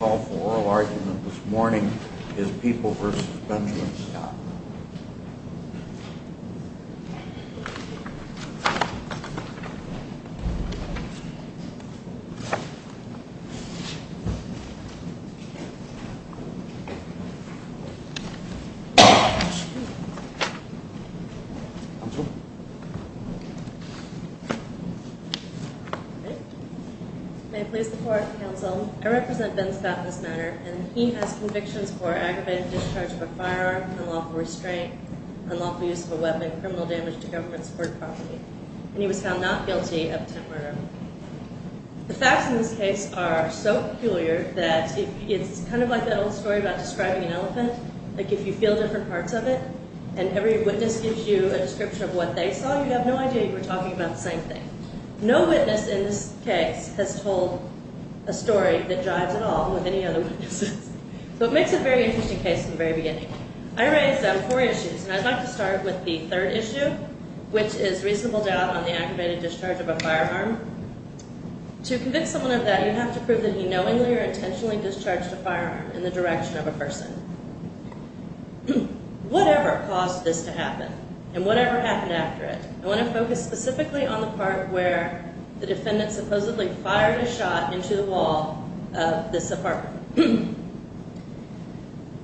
The call for oral argument this morning is People v. Benjamin Scott. May I please report, counsel, I represent Ben Scott in this matter, and he has convictions for aggravated discharge of a firearm, unlawful restraint, unlawful use of a weapon, criminal damage to government-supported property, and he was found not guilty of attempted murder. The facts in this case are so peculiar that it's kind of like that old story about describing an elephant, like if you feel different parts of it and every witness gives you a description of what they saw, you'd have no idea you were talking about the same thing. No witness in this case has told a story that jives at all with any other witnesses. So it makes a very interesting case from the very beginning. I raised four issues, and I'd like to start with the third issue, which is reasonable doubt on the aggravated discharge of a firearm. To convince someone of that, you have to prove that he knowingly or intentionally discharged a firearm in the direction of a person. Whatever caused this to happen and whatever happened after it, I want to focus specifically on the part where the defendant supposedly fired a shot into the wall of this apartment.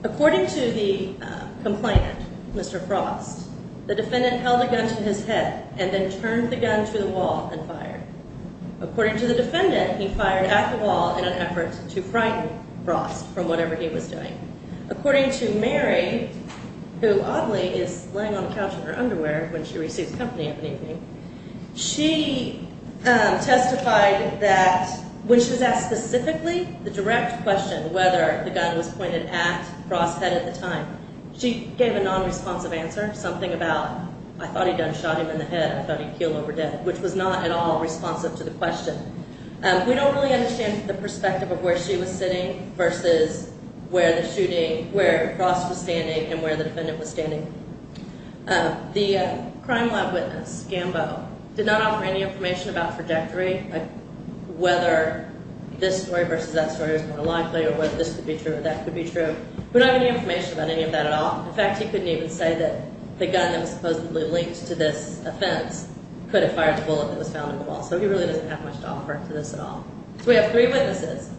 According to the complainant, Mr. Frost, the defendant held a gun to his head and then turned the gun to the wall and fired. According to the defendant, he fired at the wall in an effort to frighten Frost from whatever he was doing. According to Mary, who oddly is laying on the couch in her underwear when she receives company in the evening, she testified that when she was asked specifically the direct question whether the gun was pointed at Frost's head at the time, she gave a nonresponsive answer, something about, I thought he done shot him in the head, I thought he keeled over dead, which was not at all responsive to the question. We don't really understand the perspective of where she was sitting versus where the shooting, where Frost was standing and where the defendant was standing. The crime lab witness, Gambo, did not offer any information about trajectory, whether this story versus that story was more likely or whether this could be true or that could be true. We don't have any information about any of that at all. In fact, he couldn't even say that the gun that was supposedly linked to this offense could have fired the bullet that was found in the wall, so he really doesn't have much to offer to this at all. We have three witnesses,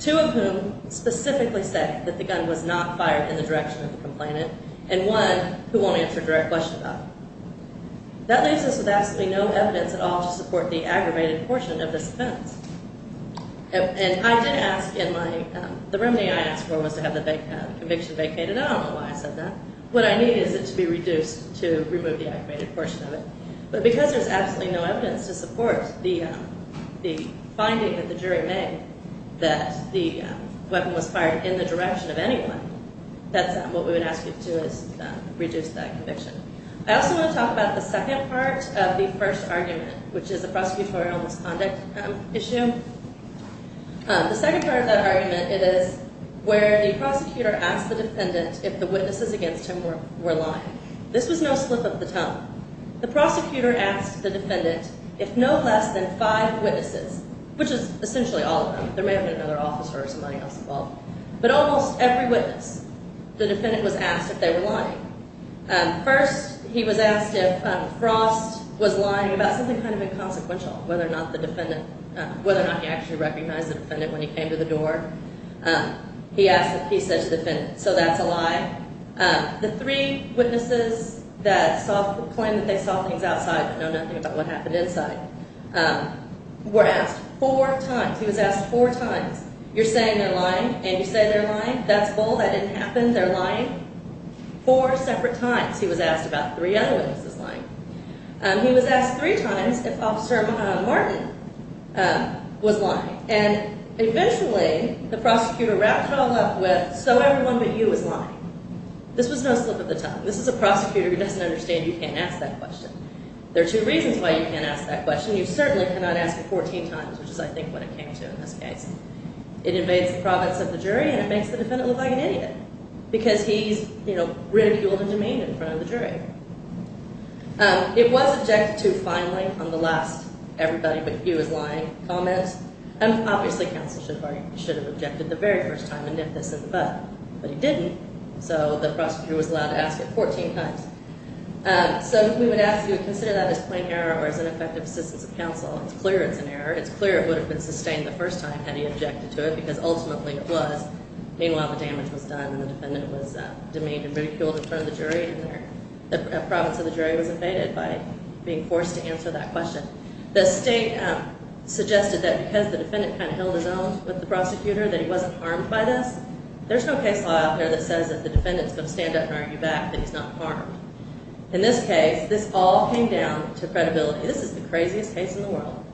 two of whom specifically say that the gun was not fired in the direction of the complainant, and one who won't answer a direct question about it. That leaves us with absolutely no evidence at all to support the aggravated portion of this offense. And I did ask in my, the remedy I asked for was to have the conviction vacated. I don't know why I said that. What I need is it to be reduced to remove the aggravated portion of it, but because there's absolutely no evidence to support the finding that the jury made that the weapon was fired in the direction of anyone, that's what we would ask you to do is reduce that conviction. I also want to talk about the second part of the first argument, which is the prosecutorial misconduct issue. The second part of that argument is where the prosecutor asked the defendant if the witnesses against him were lying. This was no slip of the tongue. The prosecutor asked the defendant if no less than five witnesses, which is essentially all of them, there may have been another officer or somebody else involved, but almost every witness, the defendant was asked if they were lying. First, he was asked if Frost was lying about something kind of inconsequential, whether or not the defendant, whether or not he actually recognized the defendant when he came to the door. He asked, he said to the defendant, so that's a lie. The three witnesses that saw, claimed that they saw things outside but know nothing about what happened inside, were asked four times. He was asked four times, you're saying they're lying and you say they're lying, that's bull, that didn't happen, they're lying. Four separate times, he was asked about three other witnesses lying. He was asked three times if Officer Martin was lying. And eventually, the prosecutor wrapped it all up with, so everyone but you is lying. This was no slip of the tongue. This is a prosecutor who doesn't understand you can't ask that question. There are two reasons why you can't ask that question. You certainly cannot ask it 14 times, which is, I think, what it came to in this case. It invades the province of the jury and it makes the defendant look like an idiot because he's, you know, ridiculed and demeaned in front of the jury. It was objected to finally on the last everybody but you is lying comment. And obviously, counsel should have objected the very first time and nipped this in the bud, but he didn't. So, the prosecutor was allowed to ask it 14 times. So, we would ask you to consider that as plain error or as ineffective assistance of counsel. It's clear it's an error. It's clear it would have been sustained the first time had he objected to it because ultimately it was. Meanwhile, the damage was done and the defendant was demeaned and ridiculed in front of the jury and the province of the jury was invaded by being forced to answer that question. The state suggested that because the defendant kind of held his own with the prosecutor, that he wasn't harmed by this. There's no case law out there that says that the defendant is going to stand up and argue back that he's not harmed. In this case, this all came down to credibility. This is the craziest case in the world.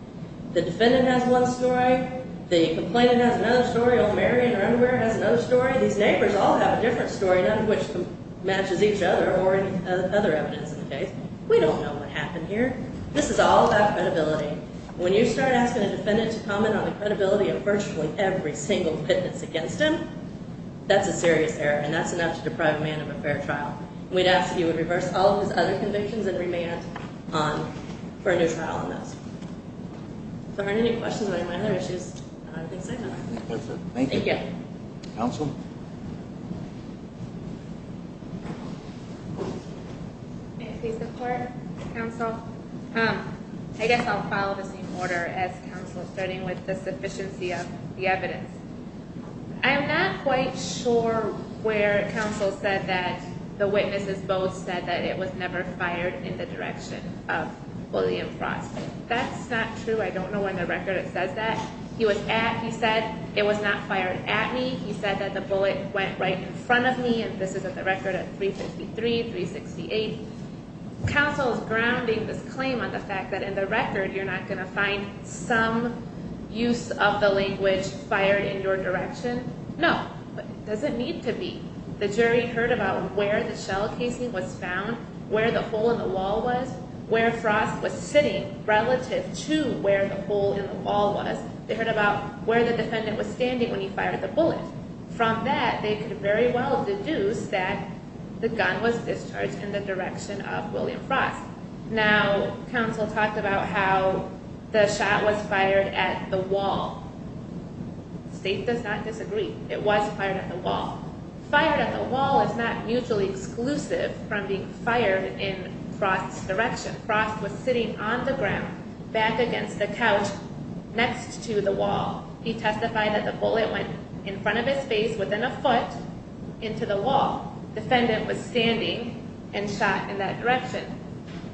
The defendant has one story. The complainant has another story. Old Marion or underwear has another story. These neighbors all have a different story, none of which matches each other or any other evidence in the case. We don't know what happened here. This is all about credibility. When you start asking a defendant to comment on the credibility of virtually every single witness against him, that's a serious error and that's enough to deprive a man of a fair trial. We'd ask that he would reverse all of his other convictions and remand for a new trial on this. If there aren't any questions about any of my other issues, I'm going to sign off. Thank you. Thank you. Counsel? May I please declare counsel? I guess I'll follow the same order as counsel, starting with the sufficiency of the evidence. I'm not quite sure where counsel said that the witnesses both said that it was never fired in the direction of bullying and fraud. That's not true. I don't know on the record it says that. He was at, he said, it was not fired at me. He said that the bullet went right in front of me and this is at the record of 353, 368. Counsel is grounding this claim on the fact that in the record you're not going to find some use of the language fired in your direction. No. It doesn't need to be. The jury heard about where the shell casing was found, where the hole in the wall was, where Frost was sitting relative to where the hole in the wall was. They heard about where the defendant was standing when he fired the bullet. From that, they could very well deduce that the gun was discharged in the direction of William Frost. Now, counsel talked about how the shot was fired at the wall. State does not disagree. It was fired at the wall. Fired at the wall is not mutually exclusive from being fired in Frost's direction. Frost was sitting on the ground back against the couch next to the wall. He testified that the bullet went in front of his face within a foot into the wall. Defendant was standing and shot in that direction.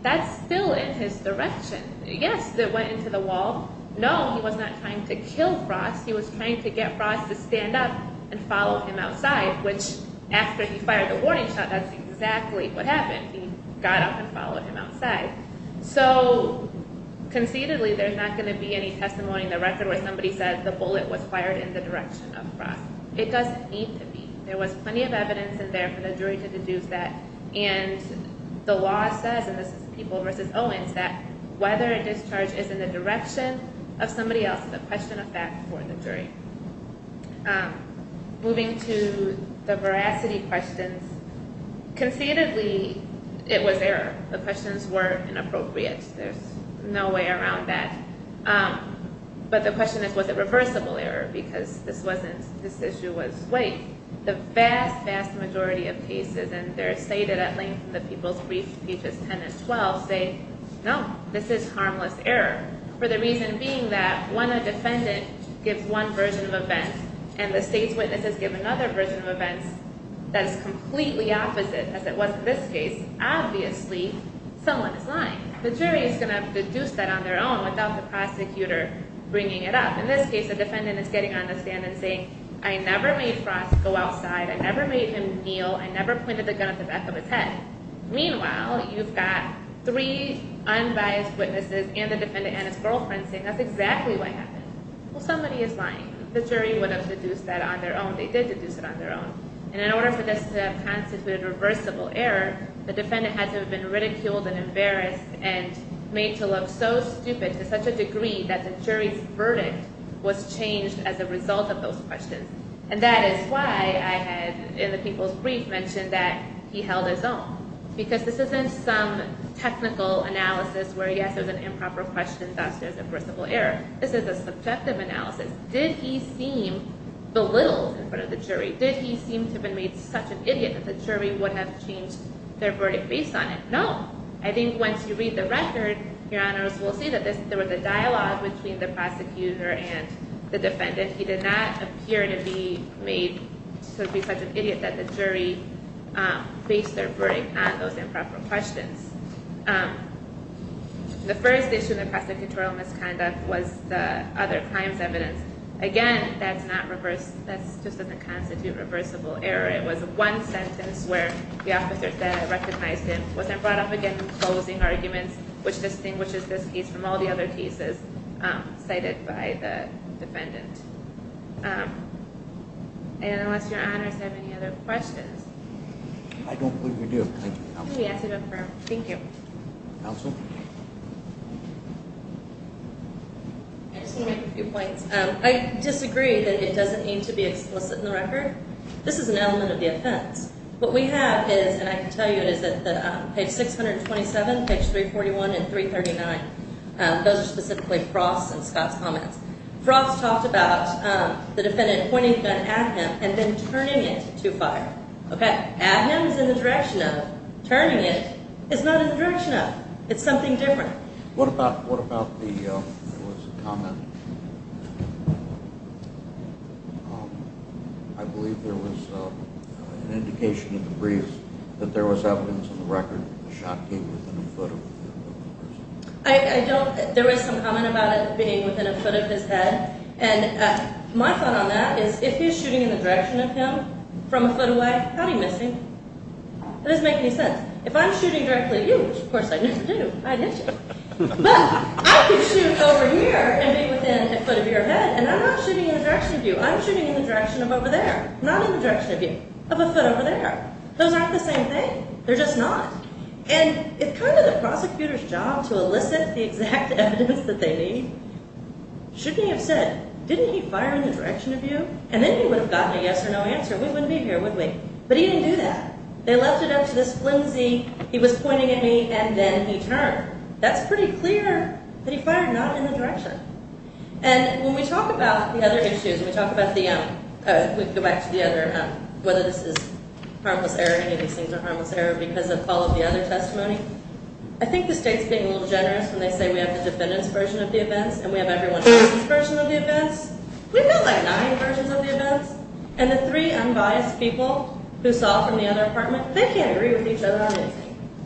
That's still in his direction. Yes, it went into the wall. No, he was not trying to kill Frost. He was trying to get Frost to stand up and follow him outside, which after he fired the warning shot, that's exactly what happened. He got up and followed him outside. So conceitedly, there's not going to be any testimony in the record where somebody said the bullet was fired in the direction of Frost. It doesn't need to be. There was plenty of evidence in there for the jury to deduce that. The law says, and this is People v. Owens, that whether a discharge is in the direction of somebody else is a question of fact for the jury. Moving to the veracity questions. Conceitedly, it was error. The questions were inappropriate. There's no way around that. But the question is, was it reversible error? Because this issue was weight. The vast, vast majority of cases, and they're stated at length in the People's Brief, pages 10 and 12, say, no, this is harmless error, for the reason being that when a defendant gives one version of events and the state's witnesses give another version of events that is completely opposite, as it was in this case, obviously someone is lying. The jury is going to have to deduce that on their own without the prosecutor bringing it up. In this case, the defendant is getting on the stand and saying, I never made Frost go outside. I never made him kneel. I never pointed the gun at the back of his head. Meanwhile, you've got three unbiased witnesses and the defendant and his girlfriend saying that's exactly what happened. Well, somebody is lying. The jury would have deduced that on their own. They did deduce it on their own. And in order for this to have constituted reversible error, the defendant had to have been ridiculed and embarrassed and made to look so stupid to such a degree that the jury's verdict was changed as a result of those questions. And that is why I had, in the people's brief, mentioned that he held his own. Because this isn't some technical analysis where, yes, there's an improper question, thus there's a reversible error. This is a subjective analysis. Did he seem belittled in front of the jury? Did he seem to have been made such an idiot that the jury would have changed their verdict based on it? No. I think once you read the record, your honors will see that there was a dialogue between the prosecutor and the defendant. He did not appear to be made to be such an idiot that the jury based their verdict on those improper questions. The first issue in the prosecutorial misconduct was the other crimes evidence. Again, that's just doesn't constitute reversible error. It was one sentence where the officer said, recognized him, wasn't brought up again, which distinguishes this case from all the other cases cited by the defendant. And unless your honors have any other questions. I don't believe we do. Thank you. Thank you. Counsel? I just want to make a few points. I disagree that it doesn't need to be explicit in the record. This is an element of the offense. What we have is, and I can tell you it is that page 627, page 341 and 339. Those are specifically Frost and Scott's comments. Frost talked about the defendant pointing a gun at him and then turning it to fire. Okay? At him is in the direction of turning it. It's not in the direction of. It's something different. What about the comment? I believe there was an indication in the briefs that there was evidence in the record that the shot came within a foot of the person. I don't. There was some comment about it being within a foot of his head. And my thought on that is if he's shooting in the direction of him from a foot away, how'd he miss him? It doesn't make any sense. If I'm shooting directly at you, which, of course, I never do, I didn't shoot. But I could shoot over here and be within a foot of your head, and I'm not shooting in the direction of you. I'm shooting in the direction of over there, not in the direction of you, of a foot over there. Those aren't the same thing. They're just not. And it's kind of the prosecutor's job to elicit the exact evidence that they need. Shouldn't he have said, didn't he fire in the direction of you? And then he would have gotten a yes or no answer. We wouldn't be here, would we? But he didn't do that. They left it up to this flimsy, he was pointing at me, and then he turned. That's pretty clear that he fired not in the direction. And when we talk about the other issues, when we talk about the, oh, we can go back to the other, whether this is harmless error, any of these things are harmless error because of all of the other testimony, I think the state's being a little generous when they say we have the defendant's version of the events and we have everyone else's version of the events. We've got, like, nine versions of the events. And the three unbiased people who saw from the other apartment, they can't agree with each other on this.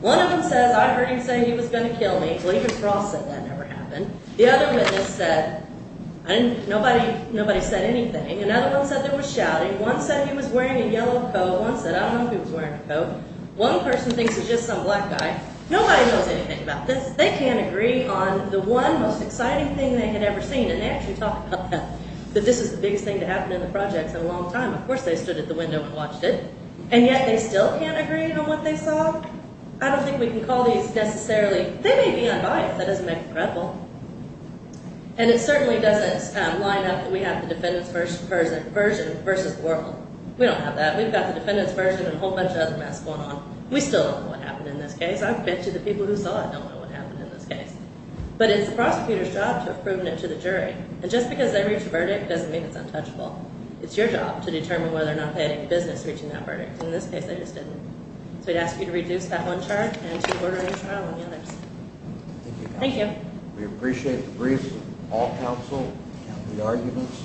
One of them says, I heard him say he was going to kill me. Well, even Frost said that never happened. The other witness said nobody said anything. Another one said there was shouting. One said he was wearing a yellow coat. One said, I don't know if he was wearing a coat. One person thinks he's just some black guy. Nobody knows anything about this. They can't agree on the one most exciting thing they had ever seen, and they actually talk about that, that this is the biggest thing to happen in the projects in a long time. Of course they stood at the window and watched it. And yet they still can't agree on what they saw? I don't think we can call these necessarily, they may be unbiased. That doesn't make them credible. And it certainly doesn't line up that we have the defendant's version versus the world. We don't have that. We've got the defendant's version and a whole bunch of other mess going on. We still don't know what happened in this case. I bet you the people who saw it don't know what happened in this case. But it's the prosecutor's job to have proven it to the jury. And just because they reach a verdict doesn't mean it's untouchable. It's your job to determine whether or not they had any business reaching that verdict. In this case they just didn't. So I'd ask you to reduce that one charge and to order a trial on the others. Thank you. We appreciate the briefs of all counsel, the arguments.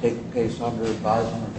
Take the case under advisement.